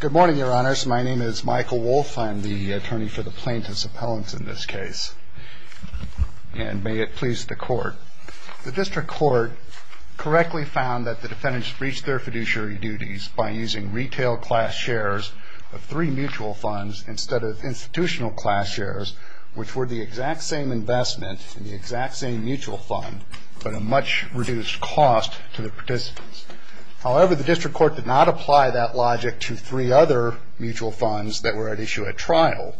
Good morning, your honors. My name is Michael Wolfe. I'm the attorney for the plaintiff's appellant in this case. And may it please the court, the district court correctly found that the defendants breached their fiduciary duties by using retail class shares of three mutual funds instead of institutional class shares, which were the exact same investment in the exact same mutual fund, but a much reduced cost to the participants. However, the district court did not apply that logic to three other mutual funds that were at issue at trial,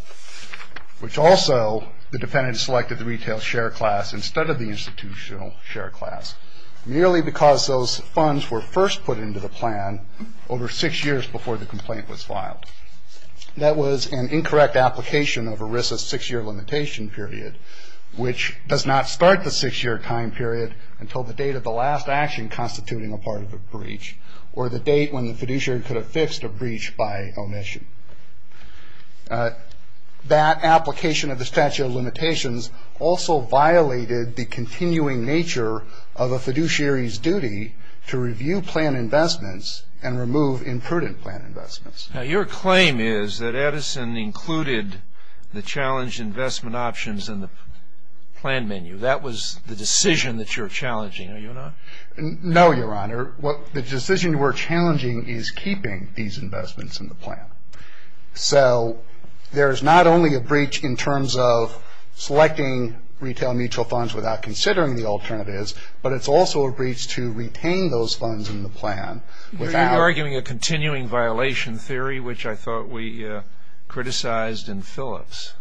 which also the defendant selected the retail share class instead of the institutional share class, merely because those funds were first put into the plan over six years before the complaint was filed. That was an incorrect application of ERISA's six-year limitation period, which does not start the six-year time period until the date of the last action constituting a part of a breach or the date when the fiduciary could have fixed a breach by omission. That application of the statute of limitations also violated the continuing nature of a fiduciary's duty to review plan investments and remove imprudent plan investments. Now, your claim is that Edison included the challenged investment options in the plan menu. That was the decision that you're challenging, are you or not? No, Your Honor. The decision we're challenging is keeping these investments in the plan. So there's not only a breach in terms of selecting retail mutual funds without considering the alternatives, but it's also a breach to retain those funds in the plan without – There was a violation theory which I thought we criticized in Phillips.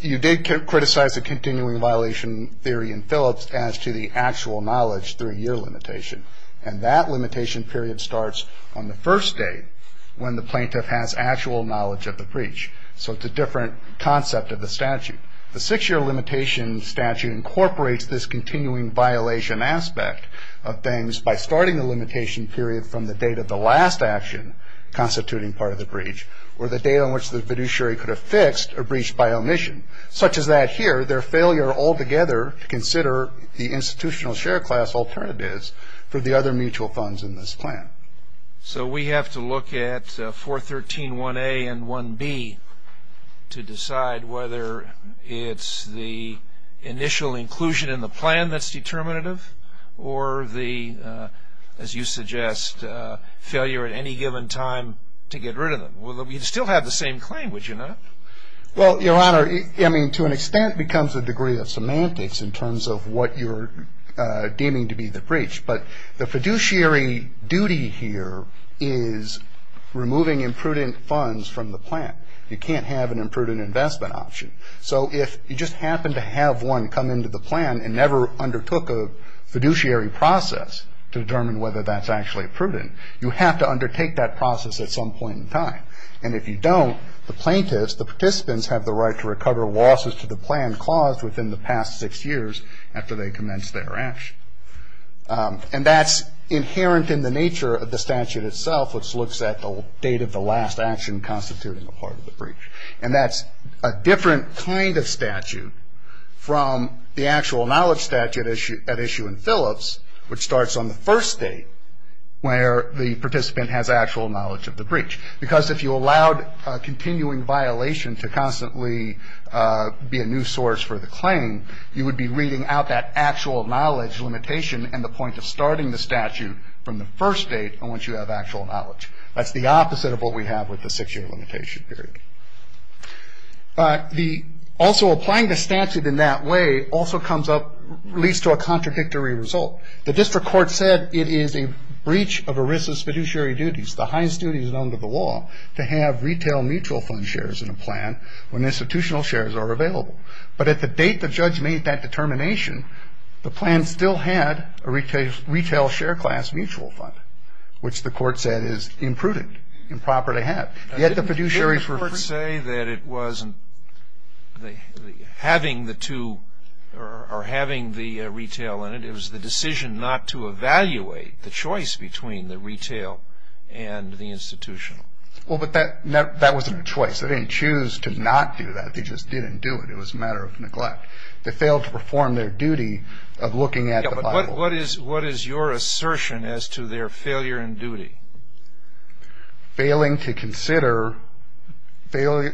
You did criticize the continuing violation theory in Phillips as to the actual knowledge through year limitation, and that limitation period starts on the first day when the plaintiff has actual knowledge of the breach. So it's a different concept of the statute. The six-year limitation statute incorporates this continuing violation aspect of things by starting the limitation period from the date of the last action constituting part of the breach or the date on which the fiduciary could have fixed a breach by omission, such as that here, their failure altogether to consider the institutional share class alternatives for the other mutual funds in this plan. So we have to look at 413.1a and 1b to decide whether it's the initial inclusion in the plan that's determinative or the, as you suggest, failure at any given time to get rid of them. Well, you'd still have the same claim, would you not? Well, Your Honor, I mean, to an extent it becomes a degree of semantics in terms of what you're deeming to be the breach. But the fiduciary duty here is removing imprudent funds from the plan. You can't have an imprudent investment option. So if you just happen to have one come into the plan and never undertook a fiduciary process to determine whether that's actually prudent, you have to undertake that process at some point in time. And if you don't, the plaintiffs, the participants, have the right to recover losses to the plan caused within the past six years after they commence their action. And that's inherent in the nature of the statute itself, which looks at the date of the last action constituting a part of the breach. And that's a different kind of statute from the actual knowledge statute at issue in Phillips, which starts on the first date where the participant has actual knowledge of the breach. Because if you allowed continuing violation to constantly be a new source for the claim, you would be reading out that actual knowledge limitation and the point of starting the statute from the first date on which you have actual knowledge. That's the opposite of what we have with the six-year limitation period. Also, applying the statute in that way also leads to a contradictory result. The district court said it is a breach of ERISA's fiduciary duties, the highest duties under the law, to have retail mutual fund shares in a plan when institutional shares are available. But at the date the judge made that determination, the plan still had a retail share class mutual fund, which the court said is imprudent, improper to have. Yet the fiduciaries were free. Didn't the court say that it wasn't having the two or having the retail in it, it was the decision not to evaluate the choice between the retail and the institutional? Well, but that wasn't a choice. They didn't choose to not do that. They just didn't do it. It was a matter of neglect. They failed to perform their duty of looking at the Bible. What is your assertion as to their failure in duty? Failing to consider, failing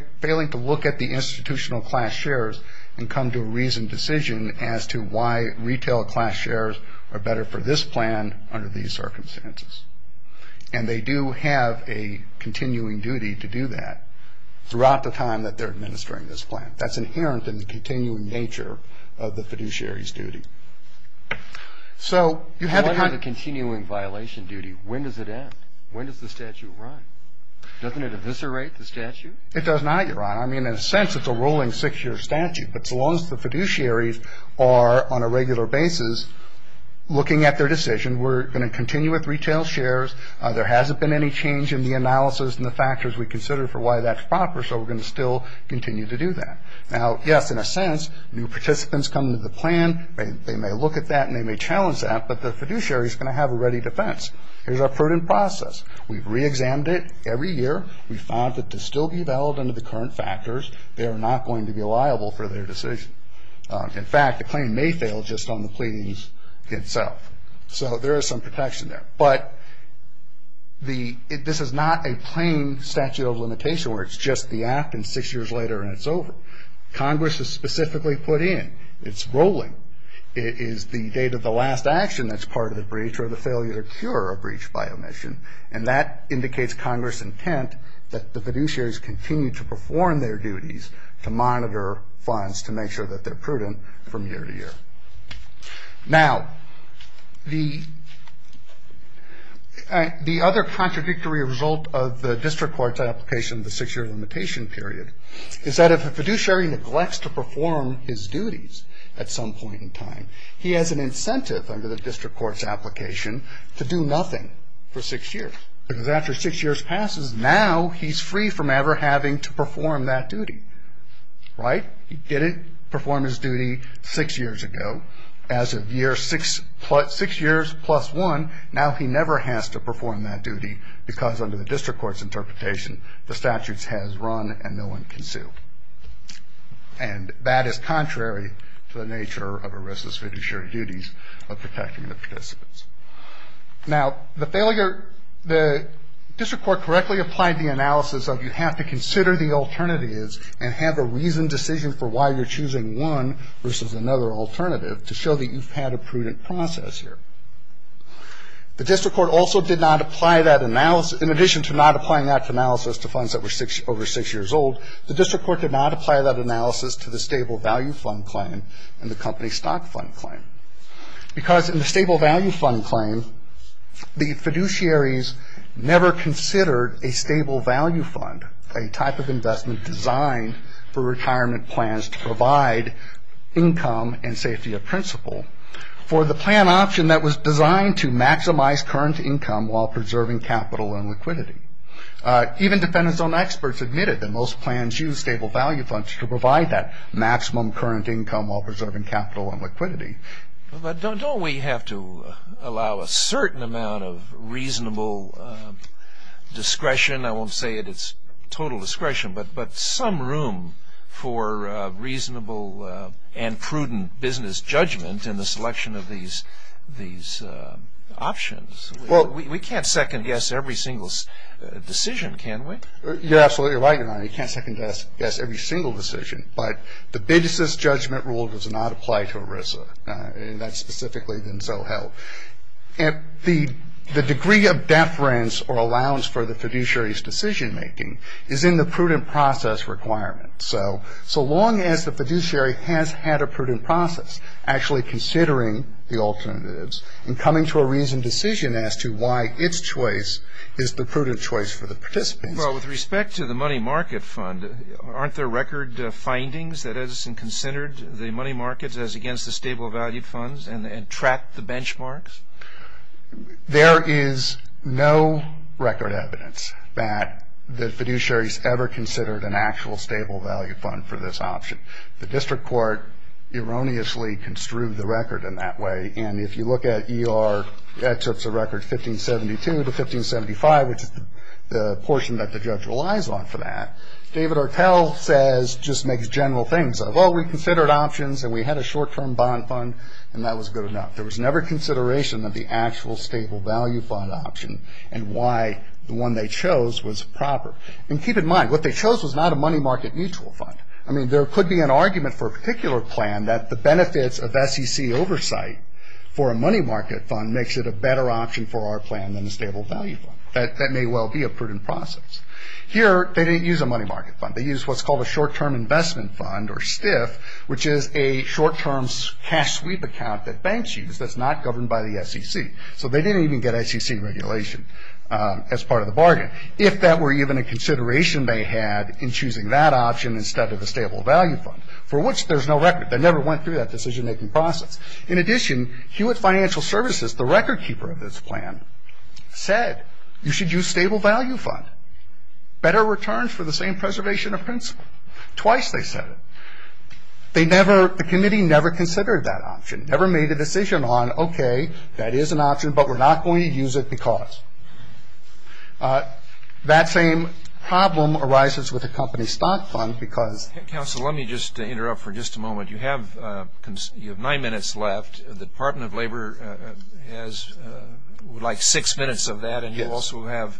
to look at the institutional class shares and come to a reasoned decision as to why retail class shares are better for this plan under these circumstances. And they do have a continuing duty to do that throughout the time that they're administering this plan. That's inherent in the continuing nature of the fiduciary's duty. So you have to kind of- What is a continuing violation duty? When does it end? When does the statute run? Doesn't it eviscerate the statute? It does not, Your Honor. I mean, in a sense, it's a rolling six-year statute. But so long as the fiduciaries are on a regular basis looking at their decision, we're going to continue with retail shares. There hasn't been any change in the analysis and the factors we consider for why that's proper, so we're going to still continue to do that. Now, yes, in a sense, new participants come to the plan. They may look at that and they may challenge that, but the fiduciary is going to have a ready defense. Here's our prudent process. We've reexamined it every year. We found that to still be valid under the current factors, they are not going to be liable for their decision. In fact, the claim may fail just on the pleadings itself. So there is some protection there. But this is not a plain statute of limitation where it's just the act and six years later and it's over. Congress is specifically put in. It's rolling. It is the date of the last action that's part of the breach or the failure to cure a breach by omission, and that indicates Congress' intent that the fiduciaries continue to perform their duties Now, the other contradictory result of the district court's application of the six-year limitation period is that if a fiduciary neglects to perform his duties at some point in time, he has an incentive under the district court's application to do nothing for six years, because after six years passes, now he's free from ever having to perform that duty, right? He didn't perform his duty six years ago. As of year six plus one, now he never has to perform that duty, because under the district court's interpretation, the statute has run and no one can sue. And that is contrary to the nature of arrestless fiduciary duties of protecting the participants. Now, the failure, the district court correctly applied the analysis of you have to consider the alternatives and have a reasoned decision for why you're choosing one versus another alternative to show that you've had a prudent process here. The district court also did not apply that analysis. In addition to not applying that analysis to funds that were over six years old, the district court did not apply that analysis to the stable value fund claim and the company stock fund claim, because in the stable value fund claim, the fiduciaries never considered a stable value fund, a type of investment designed for retirement plans to provide income and safety of principle for the plan option that was designed to maximize current income while preserving capital and liquidity. Even defendant's own experts admitted that most plans use stable value funds Don't we have to allow a certain amount of reasonable discretion? I won't say that it's total discretion, but some room for reasonable and prudent business judgment in the selection of these options. We can't second guess every single decision, can we? You're absolutely right, Your Honor. You can't second guess every single decision, but the business judgment rule does not apply to ERISA, and that's specifically been so held. The degree of deference or allowance for the fiduciary's decision making is in the prudent process requirement. So long as the fiduciary has had a prudent process actually considering the alternatives and coming to a reasoned decision as to why its choice is the prudent choice for the participants. Well, with respect to the money market fund, aren't there record findings that has considered the money markets as against the stable value funds and track the benchmarks? There is no record evidence that the fiduciary's ever considered an actual stable value fund for this option. The district court erroneously construed the record in that way, and if you look at ER, that's a record 1572 to 1575, which is the portion that the judge relies on for that. David Ortel says, just makes general things of, oh, we considered options and we had a short-term bond fund, and that was good enough. There was never consideration of the actual stable value fund option and why the one they chose was proper. And keep in mind, what they chose was not a money market mutual fund. I mean, there could be an argument for a particular plan that the benefits of SEC oversight for a money market fund makes it a better option for our plan than a stable value fund. That may well be a prudent process. Here, they didn't use a money market fund. They used what's called a short-term investment fund, or STIF, which is a short-term cash sweep account that banks use that's not governed by the SEC. So they didn't even get SEC regulation as part of the bargain, if that were even a consideration they had in choosing that option instead of a stable value fund, for which there's no record. They never went through that decision-making process. In addition, Hewitt Financial Services, the record keeper of this plan, said, you should use stable value fund, better returns for the same preservation of principle. Twice they said it. They never – the committee never considered that option, never made a decision on, okay, that is an option, but we're not going to use it because. That same problem arises with a company stock fund because – You have nine minutes left. The Department of Labor has, like, six minutes of that, and you also have,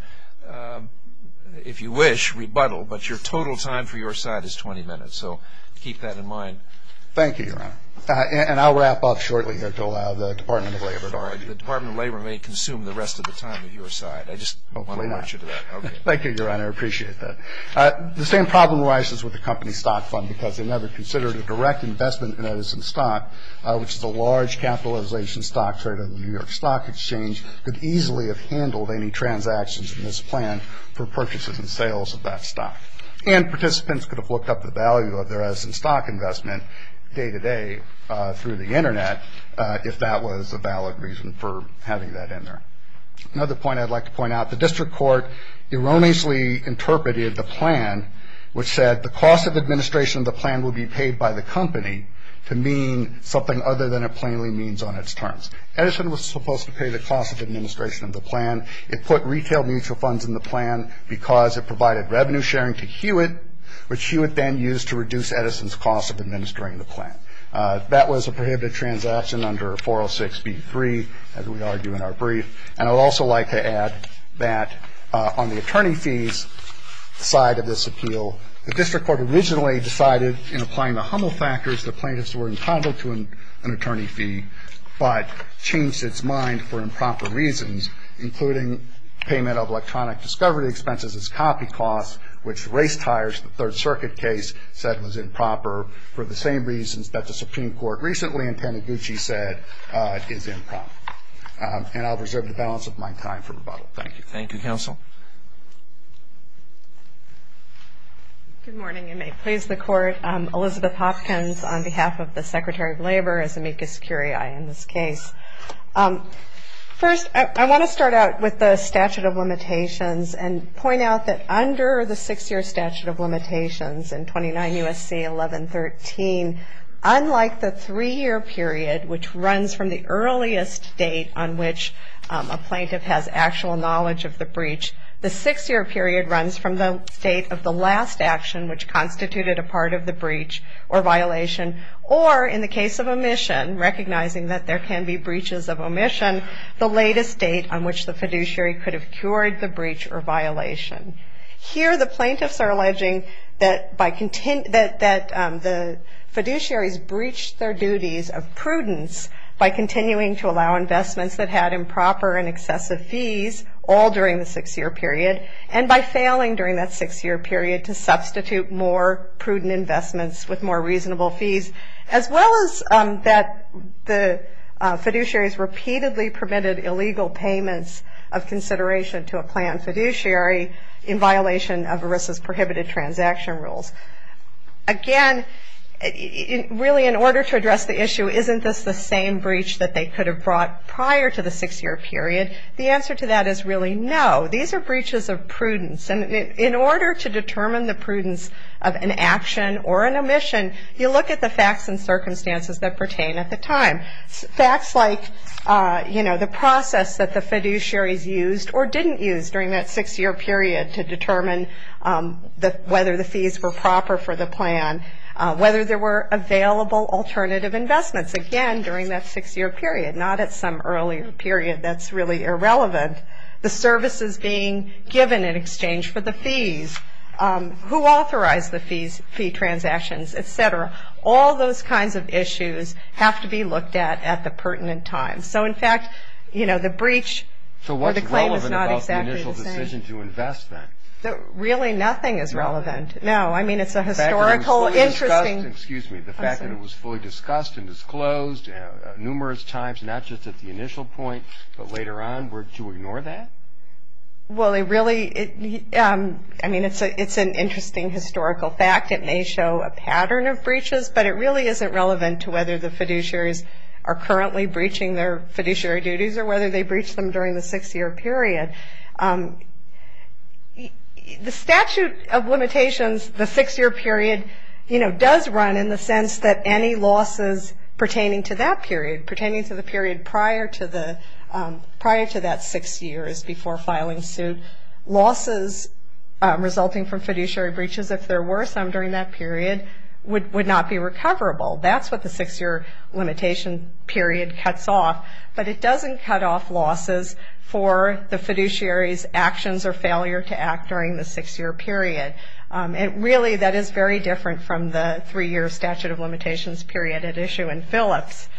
if you wish, rebuttal, but your total time for your side is 20 minutes, so keep that in mind. Thank you, Your Honor. And I'll wrap up shortly here to allow the Department of Labor. The Department of Labor may consume the rest of the time of your side. I just want to point you to that. Thank you, Your Honor. I appreciate that. The same problem arises with the company stock fund because they never considered a direct investment in Edison stock, which is a large capitalization stock trade of the New York Stock Exchange, could easily have handled any transactions in this plan for purchases and sales of that stock. And participants could have looked up the value of their Edison stock investment day-to-day through the Internet if that was a valid reason for having that in there. Another point I'd like to point out, the district court erroneously interpreted the plan, which said the cost of administration of the plan would be paid by the company to mean something other than it plainly means on its terms. Edison was supposed to pay the cost of administration of the plan. It put retail mutual funds in the plan because it provided revenue sharing to Hewitt, which Hewitt then used to reduce Edison's cost of administering the plan. That was a prohibited transaction under 406b-3, as we argue in our brief. And I would also like to add that on the attorney fees side of this appeal, the district court originally decided in applying the Hummel factors that plaintiffs were entitled to an attorney fee, but changed its mind for improper reasons, including payment of electronic discovery expenses as copy costs, which race tires, the Third Circuit case, said was improper, for the same reasons that the Supreme Court recently in Panaguchi said is improper. And I'll reserve the balance of my time for rebuttal. Thank you. Thank you, counsel. Good morning. You may please the court. Elizabeth Hopkins on behalf of the Secretary of Labor is amicus curiae in this case. First, I want to start out with the statute of limitations and point out that under the six-year statute of limitations in 29 U.S.C. 1113, unlike the three-year period, which runs from the earliest date on which a plaintiff has actual knowledge of the breach, the six-year period runs from the state of the last action, which constituted a part of the breach or violation, or in the case of omission, recognizing that there can be breaches of omission, the latest date on which the fiduciary could have cured the breach or violation. Here the plaintiffs are alleging that the fiduciaries breached their duties of prudence by continuing to allow investments that had improper and excessive fees all during the six-year period and by failing during that six-year period to substitute more prudent investments with more reasonable fees, as well as that the fiduciaries repeatedly permitted illegal payments of consideration to a planned fiduciary in violation of ERISA's prohibited transaction rules. Again, really in order to address the issue, isn't this the same breach that they could have brought prior to the six-year period? The answer to that is really no. These are breaches of prudence. And in order to determine the prudence of an action or an omission, you look at the facts and circumstances that pertain at the time. Facts like, you know, the process that the fiduciaries used or didn't use during that six-year period to determine whether the fees were proper for the plan, whether there were available alternative investments, again, during that six-year period, not at some earlier period that's really irrelevant. The services being given in exchange for the fees, who authorized the fee transactions, et cetera. All those kinds of issues have to be looked at at the pertinent time. So, in fact, you know, the breach or the claim is not exactly the same. So what's relevant about the initial decision to invest then? Really nothing is relevant. No, I mean it's a historical, interesting. The fact that it was fully discussed and disclosed numerous times, not just at the initial point, but later on, to ignore that? Well, it really, I mean, it's an interesting historical fact. It may show a pattern of breaches, but it really isn't relevant to whether the fiduciaries are currently breaching their fiduciary duties or whether they breached them during the six-year period. The statute of limitations, the six-year period, you know, does run in the sense that any losses pertaining to that period, pertaining to the period prior to that six years before filing suit, losses resulting from fiduciary breaches, if there were some during that period, would not be recoverable. That's what the six-year limitation period cuts off. But it doesn't cut off losses for the fiduciary's actions or failure to act during the six-year period. Really, that is very different from the three-year statute of limitations period at issue in Phillips.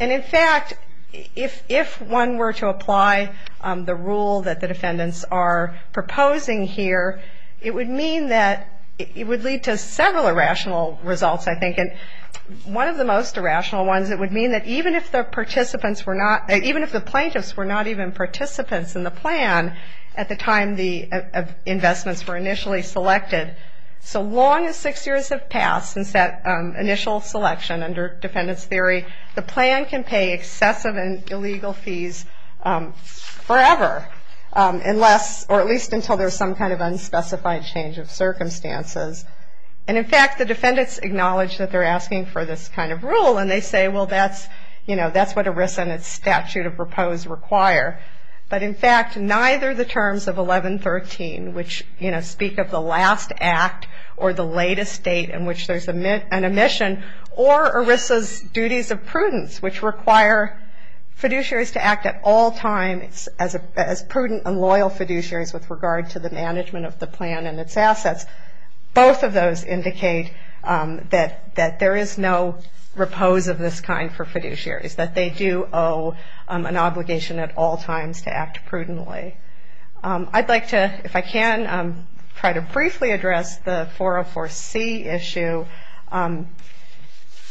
And, in fact, if one were to apply the rule that the defendants are proposing here, it would mean that it would lead to several irrational results, I think. And one of the most irrational ones, it would mean that even if the participants were not, even if the plaintiffs were not even participants in the plan at the time the investments were initially solicited, so long as six years have passed since that initial selection under defendant's theory, the plan can pay excessive and illegal fees forever, unless, or at least until there's some kind of unspecified change of circumstances. And, in fact, the defendants acknowledge that they're asking for this kind of rule, and they say, well, that's, you know, that's what ERISA and its statute of proposed require. But, in fact, neither the terms of 1113, which, you know, speak of the last act or the latest date in which there's an omission, or ERISA's duties of prudence, which require fiduciaries to act at all times as prudent and loyal fiduciaries with regard to the management of the plan and its assets, both of those indicate that there is no repose of this kind for fiduciaries, that they do owe an obligation at all times to act prudently. I'd like to, if I can, try to briefly address the 404C issue.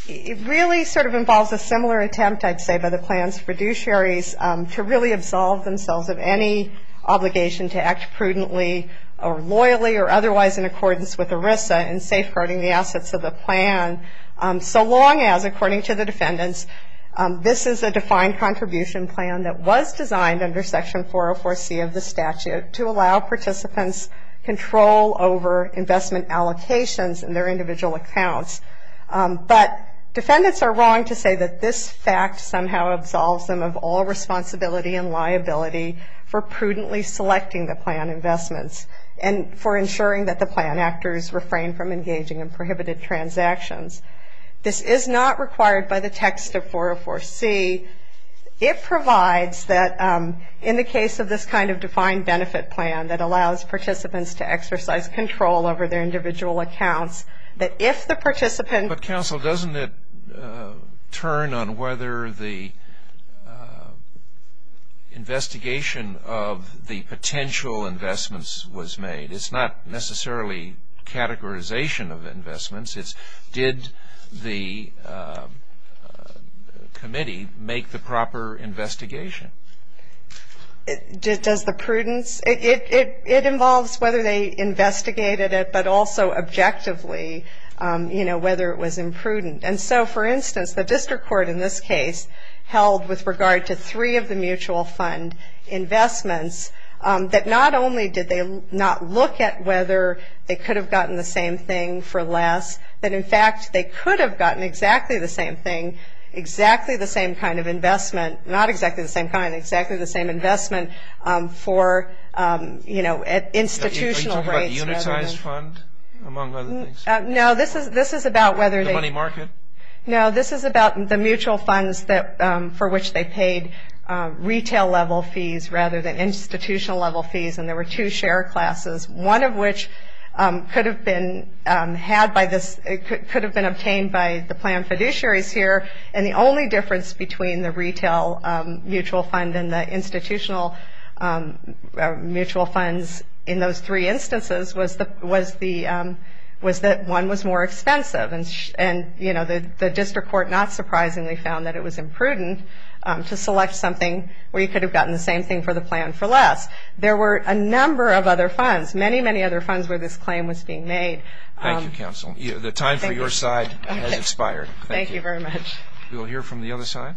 It really sort of involves a similar attempt, I'd say, by the plan's fiduciaries to really absolve themselves of any obligation to act prudently or loyally or otherwise in accordance with ERISA in safeguarding the assets of the plan, so long as, according to the defendants, this is a defined contribution plan that was designed under Section 404C of the statute to allow participants control over investment allocations in their individual accounts. But defendants are wrong to say that this fact somehow absolves them of all responsibility and liability for prudently selecting the plan investments and for ensuring that the plan actors refrain from engaging in prohibited transactions. This is not required by the text of 404C. It provides that in the case of this kind of defined benefit plan that allows participants to exercise control over their individual accounts, that if the participant- It's not necessarily categorization of investments. It's did the committee make the proper investigation. Does the prudence? It involves whether they investigated it, but also objectively, you know, whether it was imprudent. And so, for instance, the district court in this case held, with regard to three of the mutual fund investments, that not only did they not look at whether they could have gotten the same thing for less, that, in fact, they could have gotten exactly the same thing, exactly the same kind of investment, not exactly the same kind, exactly the same investment for, you know, institutional rates. Are you talking about a unitized fund, among other things? No, this is about whether they- The money market? No, this is about the mutual funds for which they paid retail-level fees rather than institutional-level fees. And there were two share classes, one of which could have been had by this- could have been obtained by the plan fiduciaries here. And the only difference between the retail mutual fund and the institutional mutual funds in those three instances was that one was more expensive. And, you know, the district court not surprisingly found that it was imprudent to select something where you could have gotten the same thing for the plan for less. There were a number of other funds, many, many other funds where this claim was being made. Thank you, counsel. The time for your side has expired. Thank you very much. We will hear from the other side.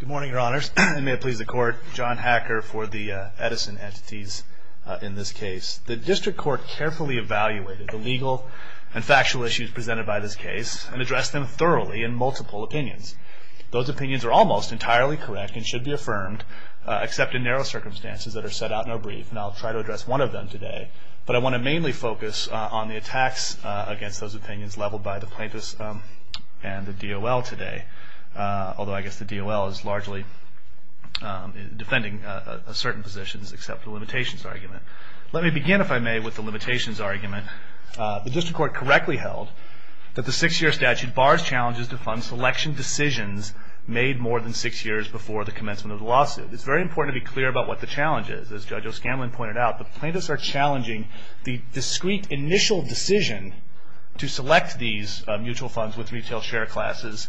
Good morning, your honors. May it please the court. John Hacker for the Edison entities in this case. The district court carefully evaluated the legal and factual issues presented by this case and addressed them thoroughly in multiple opinions. Those opinions are almost entirely correct and should be affirmed, except in narrow circumstances that are set out in our brief. And I'll try to address one of them today. But I want to mainly focus on the attacks against those individuals. Those opinions leveled by the plaintiffs and the DOL today, although I guess the DOL is largely defending certain positions except the limitations argument. Let me begin, if I may, with the limitations argument. The district court correctly held that the six-year statute bars challenges to fund selection decisions made more than six years before the commencement of the lawsuit. It's very important to be clear about what the challenge is. As Judge O'Scanlan pointed out, the plaintiffs are challenging the discrete initial decision to select these mutual funds with retail share classes,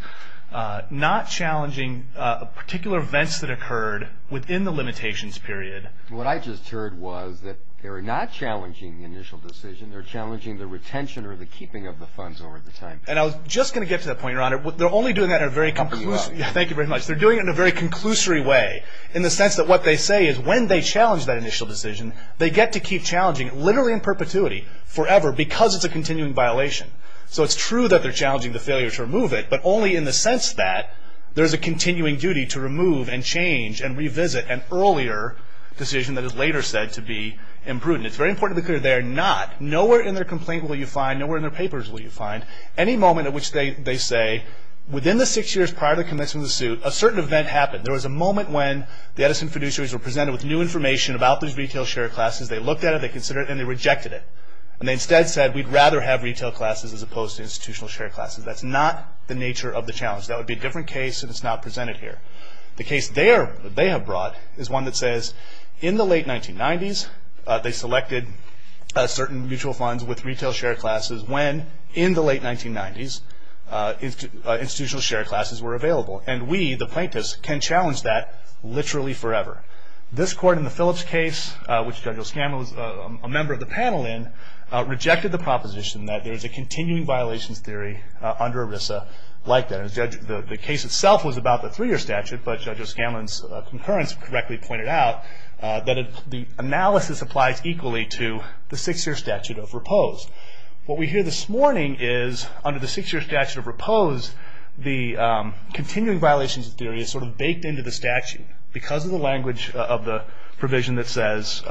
not challenging particular events that occurred within the limitations period. What I just heard was that they were not challenging the initial decision. They were challenging the retention or the keeping of the funds over the time period. And I was just going to get to that point, your honor. They're only doing that in a very conclusive way. Thank you very much. They're doing it in a very conclusory way in the sense that what they say is that when they challenge that initial decision, they get to keep challenging it literally in perpetuity forever because it's a continuing violation. So it's true that they're challenging the failure to remove it, but only in the sense that there's a continuing duty to remove and change and revisit an earlier decision that is later said to be imprudent. It's very important to be clear they are not. Nowhere in their complaint will you find, nowhere in their papers will you find, any moment at which they say within the six years prior to the commencement of the suit, a certain event happened. There was a moment when the Edison producers were presented with new information about these retail share classes. They looked at it. They considered it. And they rejected it. And they instead said we'd rather have retail classes as opposed to institutional share classes. That's not the nature of the challenge. That would be a different case if it's not presented here. The case they have brought is one that says in the late 1990s, they selected certain mutual funds with retail share classes when, in the late 1990s, institutional share classes were available. And we, the plaintiffs, can challenge that literally forever. This court in the Phillips case, which Judge O'Scanlan was a member of the panel in, rejected the proposition that there's a continuing violations theory under ERISA like that. The case itself was about the three-year statute, but Judge O'Scanlan's concurrence correctly pointed out that the analysis applies equally to the six-year statute of repose. What we hear this morning is under the six-year statute of repose, the continuing violations theory is sort of baked into the statute because of the language of the provision that says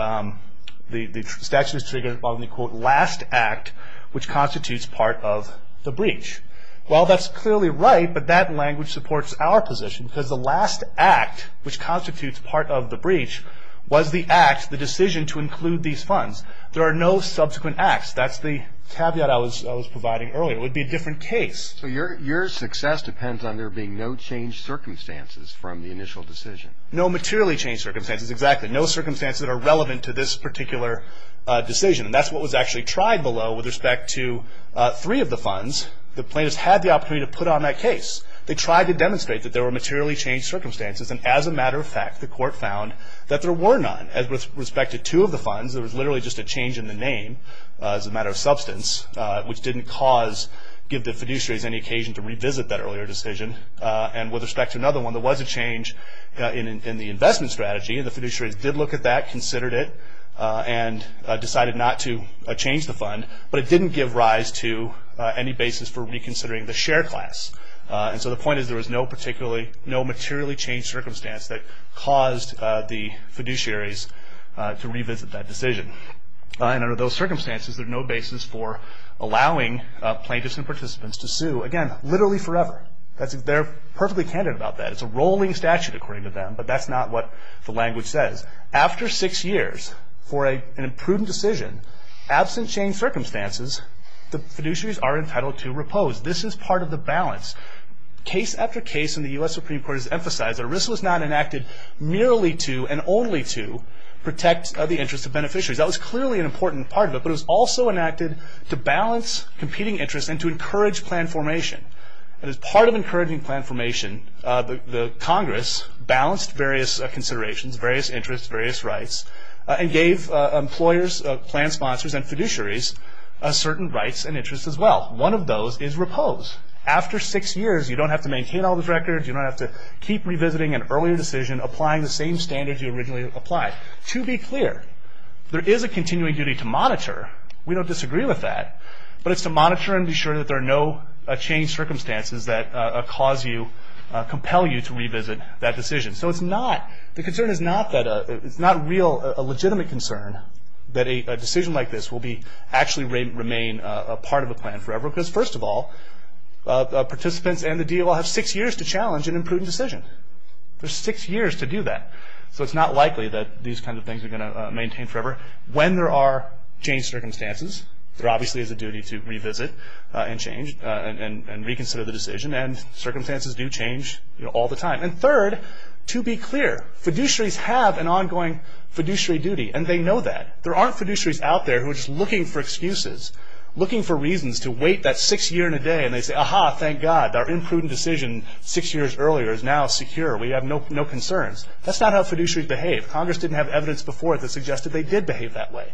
the statute is triggered following the quote, last act which constitutes part of the breach. Well, that's clearly right, but that language supports our position because the last act which constitutes part of the breach was the act, the decision to include these funds. There are no subsequent acts. That's the caveat I was providing earlier. It would be a different case. So your success depends on there being no changed circumstances from the initial decision? No materially changed circumstances, exactly. No circumstances that are relevant to this particular decision. And that's what was actually tried below with respect to three of the funds. The plaintiffs had the opportunity to put on that case. They tried to demonstrate that there were materially changed circumstances, and as a matter of fact, the court found that there were none. And with respect to two of the funds, there was literally just a change in the name as a matter of substance, which didn't give the fiduciaries any occasion to revisit that earlier decision. And with respect to another one, there was a change in the investment strategy, and the fiduciaries did look at that, considered it, and decided not to change the fund. But it didn't give rise to any basis for reconsidering the share class. And so the point is there was no materially changed circumstance that caused the fiduciaries to revisit that decision. And under those circumstances, there's no basis for allowing plaintiffs and participants to sue. Again, literally forever. They're perfectly candid about that. It's a rolling statute, according to them, but that's not what the language says. After six years for an imprudent decision, absent changed circumstances, the fiduciaries are entitled to repose. This is part of the balance. Case after case in the U.S. Supreme Court has emphasized that a risk was not enacted merely to and only to protect the interests of beneficiaries. That was clearly an important part of it, but it was also enacted to balance competing interests and to encourage plan formation. And as part of encouraging plan formation, the Congress balanced various considerations, various interests, various rights, and gave employers, plan sponsors, and fiduciaries certain rights and interests as well. One of those is repose. After six years, you don't have to maintain all those records. You don't have to keep revisiting an earlier decision, applying the same standards you originally applied. To be clear, there is a continuing duty to monitor. We don't disagree with that. But it's to monitor and be sure that there are no changed circumstances that cause you, compel you to revisit that decision. So it's not, the concern is not that, it's not real, a legitimate concern that a decision like this will be, actually remain a part of a plan forever because, first of all, participants and the DOL have six years to challenge an imprudent decision. There's six years to do that. So it's not likely that these kinds of things are going to maintain forever. When there are changed circumstances, there obviously is a duty to revisit and change and reconsider the decision, and circumstances do change all the time. And third, to be clear, fiduciaries have an ongoing fiduciary duty, and they know that. There aren't fiduciaries out there who are just looking for excuses, looking for reasons to wait that six year and a day, and they say, Aha, thank God, our imprudent decision six years earlier is now secure. We have no concerns. That's not how fiduciaries behave. Congress didn't have evidence before that suggested they did behave that way.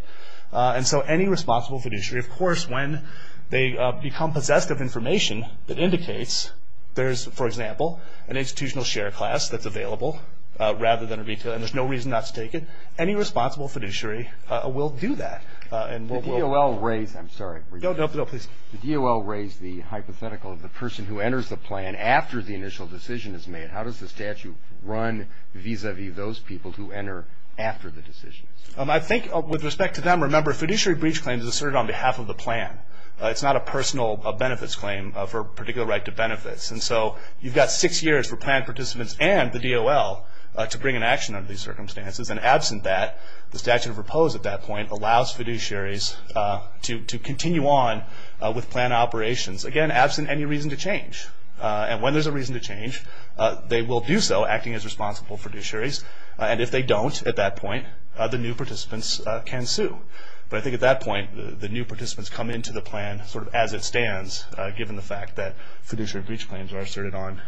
And so any responsible fiduciary, of course, when they become possessed of information that indicates there's, for example, an institutional share class that's available rather than a retail, and there's no reason not to take it, any responsible fiduciary will do that. The DOL raised the hypothetical of the person who enters the plan after the initial decision is made. How does the statute run vis-a-vis those people who enter after the decision? I think with respect to them, remember, fiduciary breach claims are asserted on behalf of the plan. And so you've got six years for plan participants and the DOL to bring an action under these circumstances. And absent that, the statute of repose at that point allows fiduciaries to continue on with plan operations. Again, absent any reason to change. And when there's a reason to change, they will do so acting as responsible fiduciaries. And if they don't at that point, the new participants can sue. But I think at that point, the new participants come into the plan sort of as it stands, given the fact that fiduciary breach claims are asserted on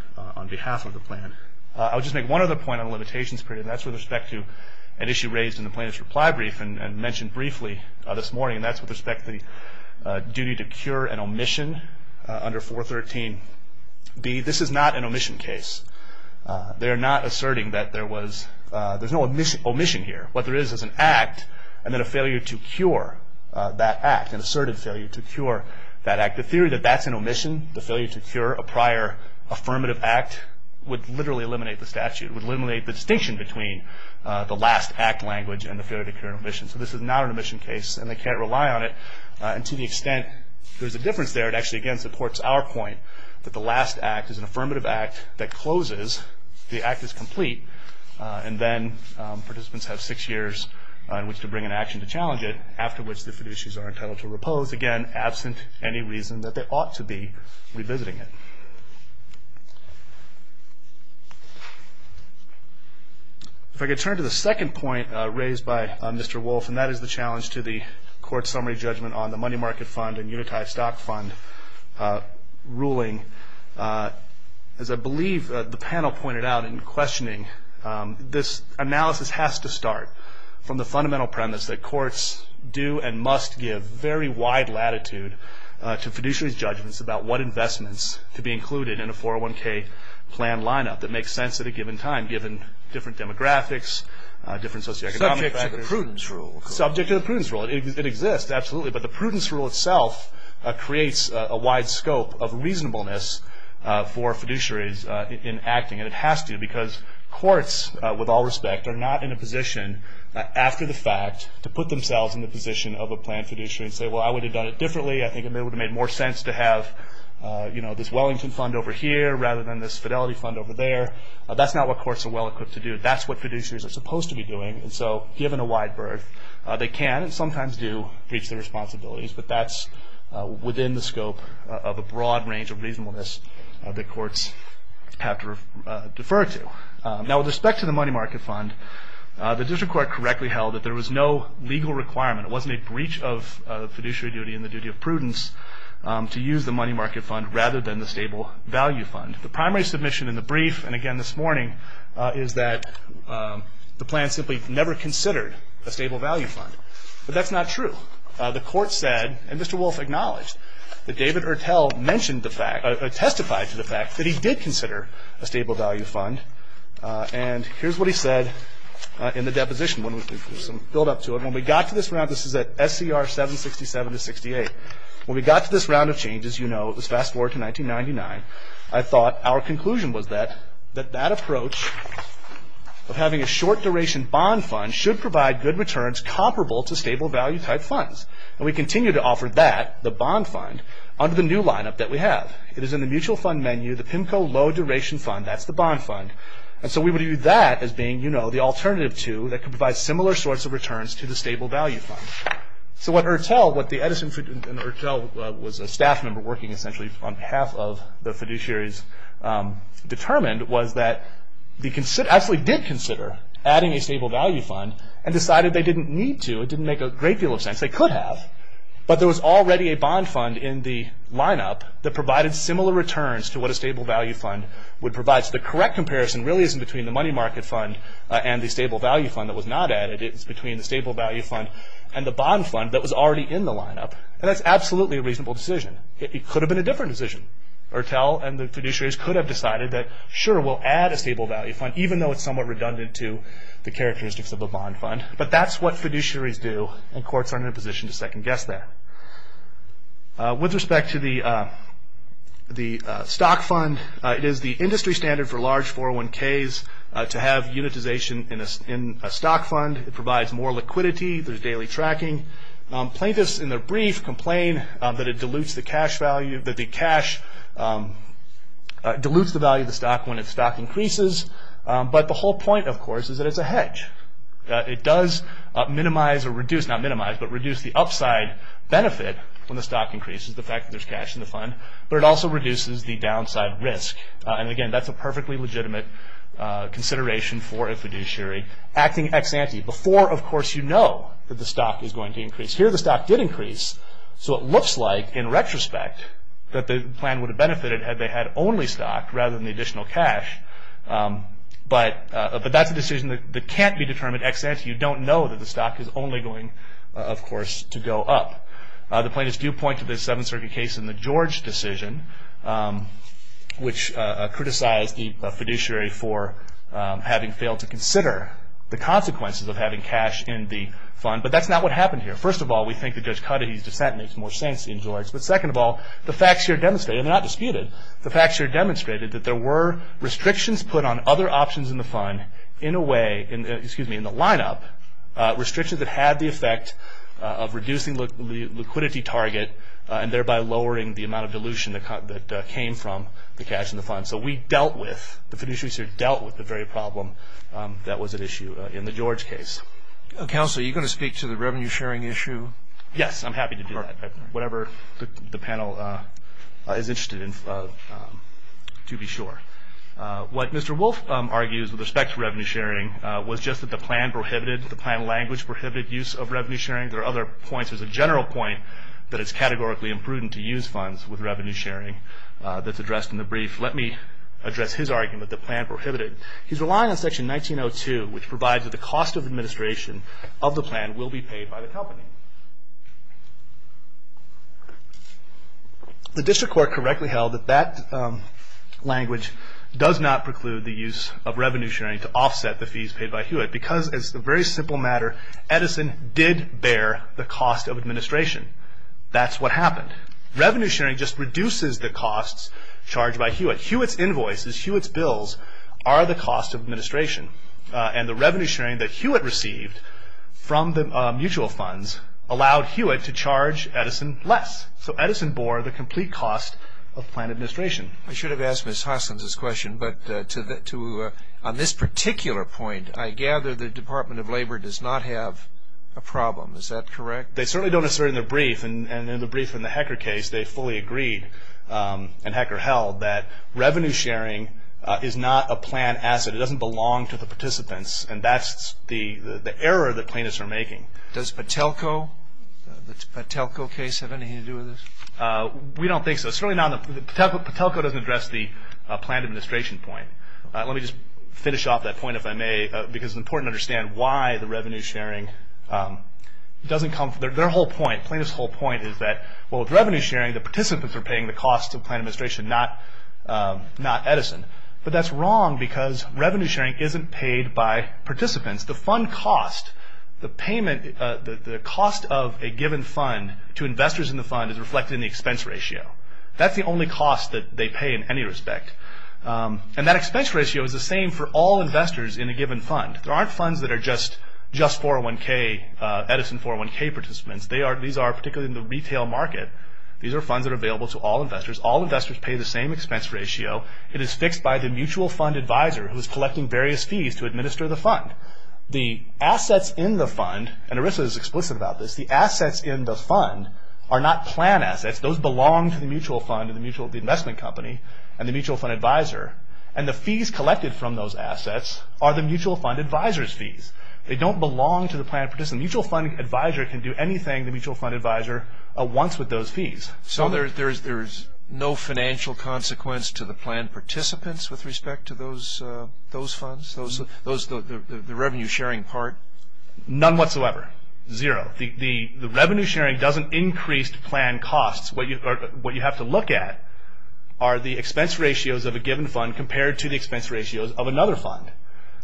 behalf of the plan. I'll just make one other point on the limitations period, and that's with respect to an issue raised in the plaintiff's reply brief and mentioned briefly this morning, and that's with respect to the duty to cure an omission under 413B. This is not an omission case. They are not asserting that there was no omission here. What there is is an act and then a failure to cure that act, an asserted failure to cure that act. The theory that that's an omission, the failure to cure a prior affirmative act, would literally eliminate the statute, would eliminate the distinction between the last act language and the failure to cure an omission. So this is not an omission case, and they can't rely on it. And to the extent there's a difference there, it actually, again, supports our point that the last act is an affirmative act that closes, the act is complete, and then participants have six years in which to bring an action to challenge it, after which the fiduciaries are entitled to repose, again, absent any reason that they ought to be revisiting it. If I could turn to the second point raised by Mr. Wolf, and that is the challenge to the court summary judgment on the money market fund and unitized stock fund ruling. As I believe the panel pointed out in questioning, this analysis has to start from the fundamental premise that courts do and must give very wide latitude to fiduciary judgments about what investments to be included in a 401k plan lineup that makes sense at a given time, given different demographics, different socioeconomic factors. Subject to the prudence rule. Subject to the prudence rule. It exists, absolutely, but the prudence rule itself creates a wide scope of reasonableness for fiduciaries in acting, and it has to, because courts, with all respect, are not in a position, after the fact, to put themselves in the position of a plan fiduciary and say, well, I would have done it differently. I think it would have made more sense to have, you know, this Wellington fund over here rather than this Fidelity fund over there. That's not what courts are well equipped to do. That's what fiduciaries are supposed to be doing, and so, given a wide berth, they can and sometimes do reach their responsibilities, but that's within the scope of a broad range of reasonableness that courts have to defer to. Now, with respect to the money market fund, the district court correctly held that there was no legal requirement, it wasn't a breach of fiduciary duty and the duty of prudence, to use the money market fund rather than the stable value fund. The primary submission in the brief, and again this morning, is that the plan simply never considered a stable value fund, but that's not true. The court said, and Mr. Wolf acknowledged, that David Ertel testified to the fact that he did consider a stable value fund, and here's what he said in the deposition. When we got to this round, this is at SCR 767-68, when we got to this round of changes, you know, it was fast forward to 1999, I thought our conclusion was that that approach of having a short duration bond fund should provide good returns comparable to stable value type funds, and we continue to offer that, the bond fund, under the new lineup that we have. It is in the mutual fund menu, the PIMCO low duration fund, that's the bond fund, and so we would view that as being, you know, the alternative to, that could provide similar sorts of returns to the stable value fund. So what Ertel, what the Edison fiduciary, and Ertel was a staff member working essentially on behalf of the fiduciaries, determined was that they actually did consider adding a stable value fund, and decided they didn't need to, it didn't make a great deal of sense, they could have, but there was already a bond fund in the lineup that provided similar returns to what a stable value fund would provide. So the correct comparison really isn't between the money market fund and the stable value fund that was not added, it's between the stable value fund and the bond fund that was already in the lineup, and that's absolutely a reasonable decision. It could have been a different decision. Ertel and the fiduciaries could have decided that, sure, we'll add a stable value fund, even though it's somewhat redundant to the characteristics of a bond fund, but that's what fiduciaries do, and courts aren't in a position to second guess that. With respect to the stock fund, it is the industry standard for large 401ks to have unitization in a stock fund. It provides more liquidity, there's daily tracking. Plaintiffs in their brief complain that it dilutes the cash value, that the cash dilutes the value of the stock when its stock increases, but the whole point, of course, is that it's a hedge. It does minimize or reduce, not minimize, but reduce the upside benefit when the stock increases, the fact that there's cash in the fund, but it also reduces the downside risk, and again, that's a perfectly legitimate consideration for a fiduciary acting ex ante, before, of course, you know that the stock is going to increase. Here the stock did increase, so it looks like, in retrospect, that the plan would have benefited had they had only stock rather than the additional cash, but that's a decision that can't be determined ex ante. You don't know that the stock is only going, of course, to go up. The plaintiffs do point to the Seventh Circuit case in the George decision, which criticized the fiduciary for having failed to consider the consequences of having cash in the fund, but that's not what happened here. First of all, we think that Judge Cudahy's dissent makes more sense in George, but second of all, the facts here demonstrate, and they're not disputed, the facts here demonstrated that there were restrictions put on other options in the fund in a way, excuse me, in the lineup, restrictions that had the effect of reducing the liquidity target and thereby lowering the amount of dilution that came from the cash in the fund, so we dealt with, the fiduciary dealt with the very problem that was at issue in the George case. Counsel, are you going to speak to the revenue sharing issue? Yes, I'm happy to do that. Whatever the panel is interested in, to be sure. What Mr. Wolf argues with respect to revenue sharing was just that the plan prohibited, the plan language prohibited use of revenue sharing. There are other points. There's a general point that it's categorically imprudent to use funds with revenue sharing that's addressed in the brief. Let me address his argument that the plan prohibited. He's relying on Section 1902, which provides that the cost of administration of the plan will be paid by the company. The district court correctly held that that language does not preclude the use of revenue sharing to offset the fees paid by Hewitt because, as a very simple matter, Edison did bear the cost of administration. That's what happened. Revenue sharing just reduces the costs charged by Hewitt. But Hewitt's invoices, Hewitt's bills, are the cost of administration. And the revenue sharing that Hewitt received from the mutual funds allowed Hewitt to charge Edison less. So Edison bore the complete cost of plan administration. I should have asked Ms. Hoskins' question, but on this particular point, I gather the Department of Labor does not have a problem. Is that correct? They certainly don't assert in the brief, and in the brief in the Hecker case, they fully agreed and Hecker held that revenue sharing is not a plan asset. It doesn't belong to the participants, and that's the error that plaintiffs are making. Does the Patelco case have anything to do with this? We don't think so. Certainly not. Patelco doesn't address the plan administration point. Let me just finish off that point, if I may, because it's important to understand why the revenue sharing doesn't come. Their whole point, plaintiffs' whole point is that, well, with revenue sharing, the participants are paying the cost of plan administration, not Edison. But that's wrong because revenue sharing isn't paid by participants. The fund cost, the cost of a given fund to investors in the fund is reflected in the expense ratio. That's the only cost that they pay in any respect. And that expense ratio is the same for all investors in a given fund. There aren't funds that are just 401K, Edison 401K participants. These are particularly in the retail market. These are funds that are available to all investors. All investors pay the same expense ratio. It is fixed by the mutual fund advisor who is collecting various fees to administer the fund. The assets in the fund, and Arisa is explicit about this, the assets in the fund are not plan assets. Those belong to the mutual fund and the investment company and the mutual fund advisor. And the fees collected from those assets are the mutual fund advisor's fees. They don't belong to the plan participants. The mutual fund advisor can do anything the mutual fund advisor wants with those fees. So there is no financial consequence to the plan participants with respect to those funds, the revenue sharing part? None whatsoever. Zero. The revenue sharing doesn't increase the plan costs. What you have to look at are the expense ratios of a given fund compared to the expense ratios of another fund.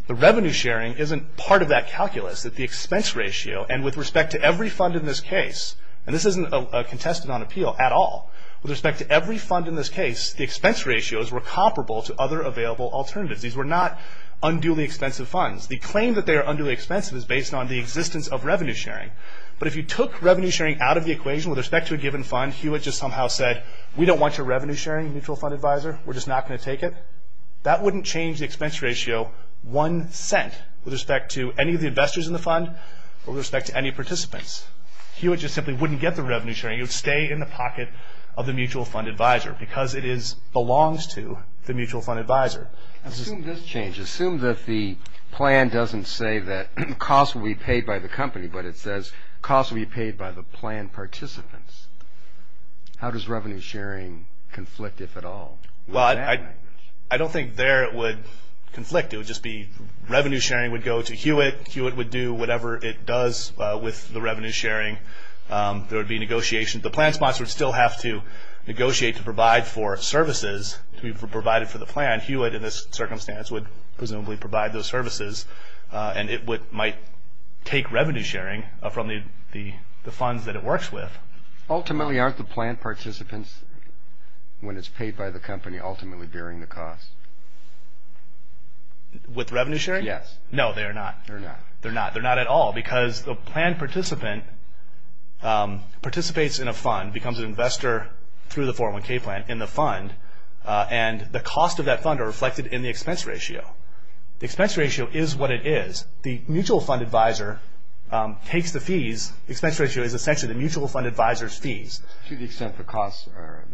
The revenue sharing isn't part of that calculus. The expense ratio, and with respect to every fund in this case, and this isn't contested on appeal at all, with respect to every fund in this case, the expense ratios were comparable to other available alternatives. These were not unduly expensive funds. The claim that they are unduly expensive is based on the existence of revenue sharing. But if you took revenue sharing out of the equation with respect to a given fund, Hewitt just somehow said, we don't want your revenue sharing, mutual fund advisor. We're just not going to take it. That wouldn't change the expense ratio one cent with respect to any of the investors in the fund or with respect to any participants. Hewitt just simply wouldn't get the revenue sharing. It would stay in the pocket of the mutual fund advisor because it belongs to the mutual fund advisor. Assume this changes. Assume that the plan doesn't say that costs will be paid by the company, but it says costs will be paid by the plan participants. How does revenue sharing conflict, if at all? Well, I don't think there it would conflict. It would just be revenue sharing would go to Hewitt. Hewitt would do whatever it does with the revenue sharing. There would be negotiations. The plan sponsor would still have to negotiate to provide for services to be provided for the plan. Hewitt, in this circumstance, would presumably provide those services, and it might take revenue sharing from the funds that it works with. Ultimately, aren't the plan participants, when it's paid by the company, ultimately bearing the cost? With revenue sharing? Yes. No, they are not. They're not. They're not at all because the plan participant participates in a fund, becomes an investor through the 401K plan in the fund, and the cost of that fund are reflected in the expense ratio. The expense ratio is what it is. The mutual fund advisor takes the fees. The expense ratio is essentially the mutual fund advisor's fees. To the extent the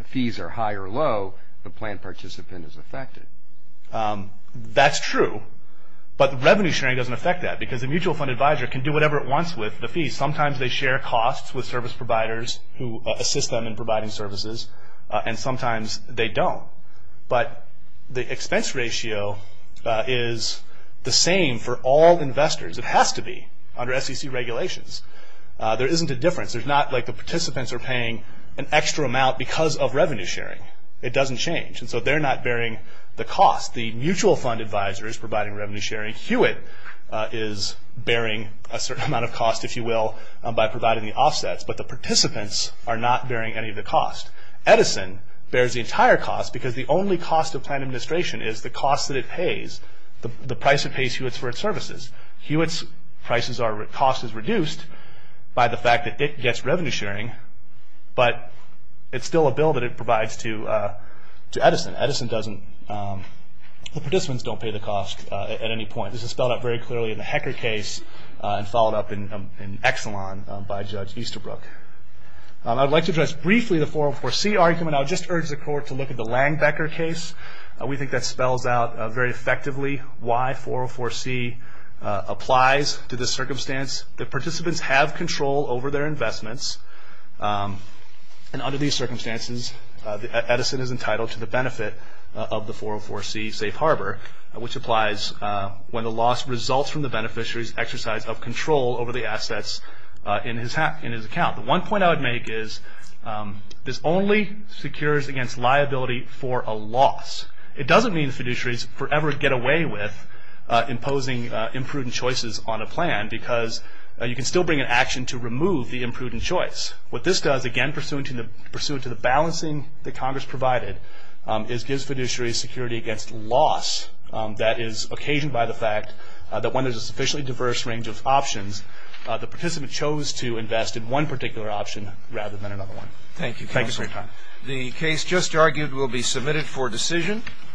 fees are high or low, the plan participant is affected. That's true, but revenue sharing doesn't affect that because the mutual fund advisor can do whatever it wants with the fees. Sometimes they share costs with service providers who assist them in providing services, and sometimes they don't, but the expense ratio is the same for all investors. It has to be under SEC regulations. There isn't a difference. It's not like the participants are paying an extra amount because of revenue sharing. It doesn't change, and so they're not bearing the cost. The mutual fund advisor is providing revenue sharing. Hewitt is bearing a certain amount of cost, if you will, by providing the offsets, but the participants are not bearing any of the cost. Edison bears the entire cost because the only cost of plan administration is the cost that it pays, the price it pays Hewitt for its services. Hewitt's cost is reduced by the fact that it gets revenue sharing, but it's still a bill that it provides to Edison. Edison doesn't. The participants don't pay the cost at any point. This is spelled out very clearly in the Hecker case and followed up in Exelon by Judge Easterbrook. I'd like to address briefly the 404C argument. I would just urge the Court to look at the Langbecker case. We think that spells out very effectively why 404C applies to this circumstance. The participants have control over their investments, and under these circumstances, Edison is entitled to the benefit of the 404C safe harbor, which applies when the loss results from the beneficiary's exercise of control over the assets in his account. The one point I would make is this only secures against liability for a loss. It doesn't mean the fiduciaries forever get away with imposing imprudent choices on a plan because you can still bring an action to remove the imprudent choice. What this does, again, pursuant to the balancing that Congress provided, is gives fiduciaries security against loss that is occasioned by the fact that when there's a sufficiently diverse range of options, the participant chose to invest in one particular option rather than another one. Thank you. Thank you for your time. The case just argued will be submitted for decision.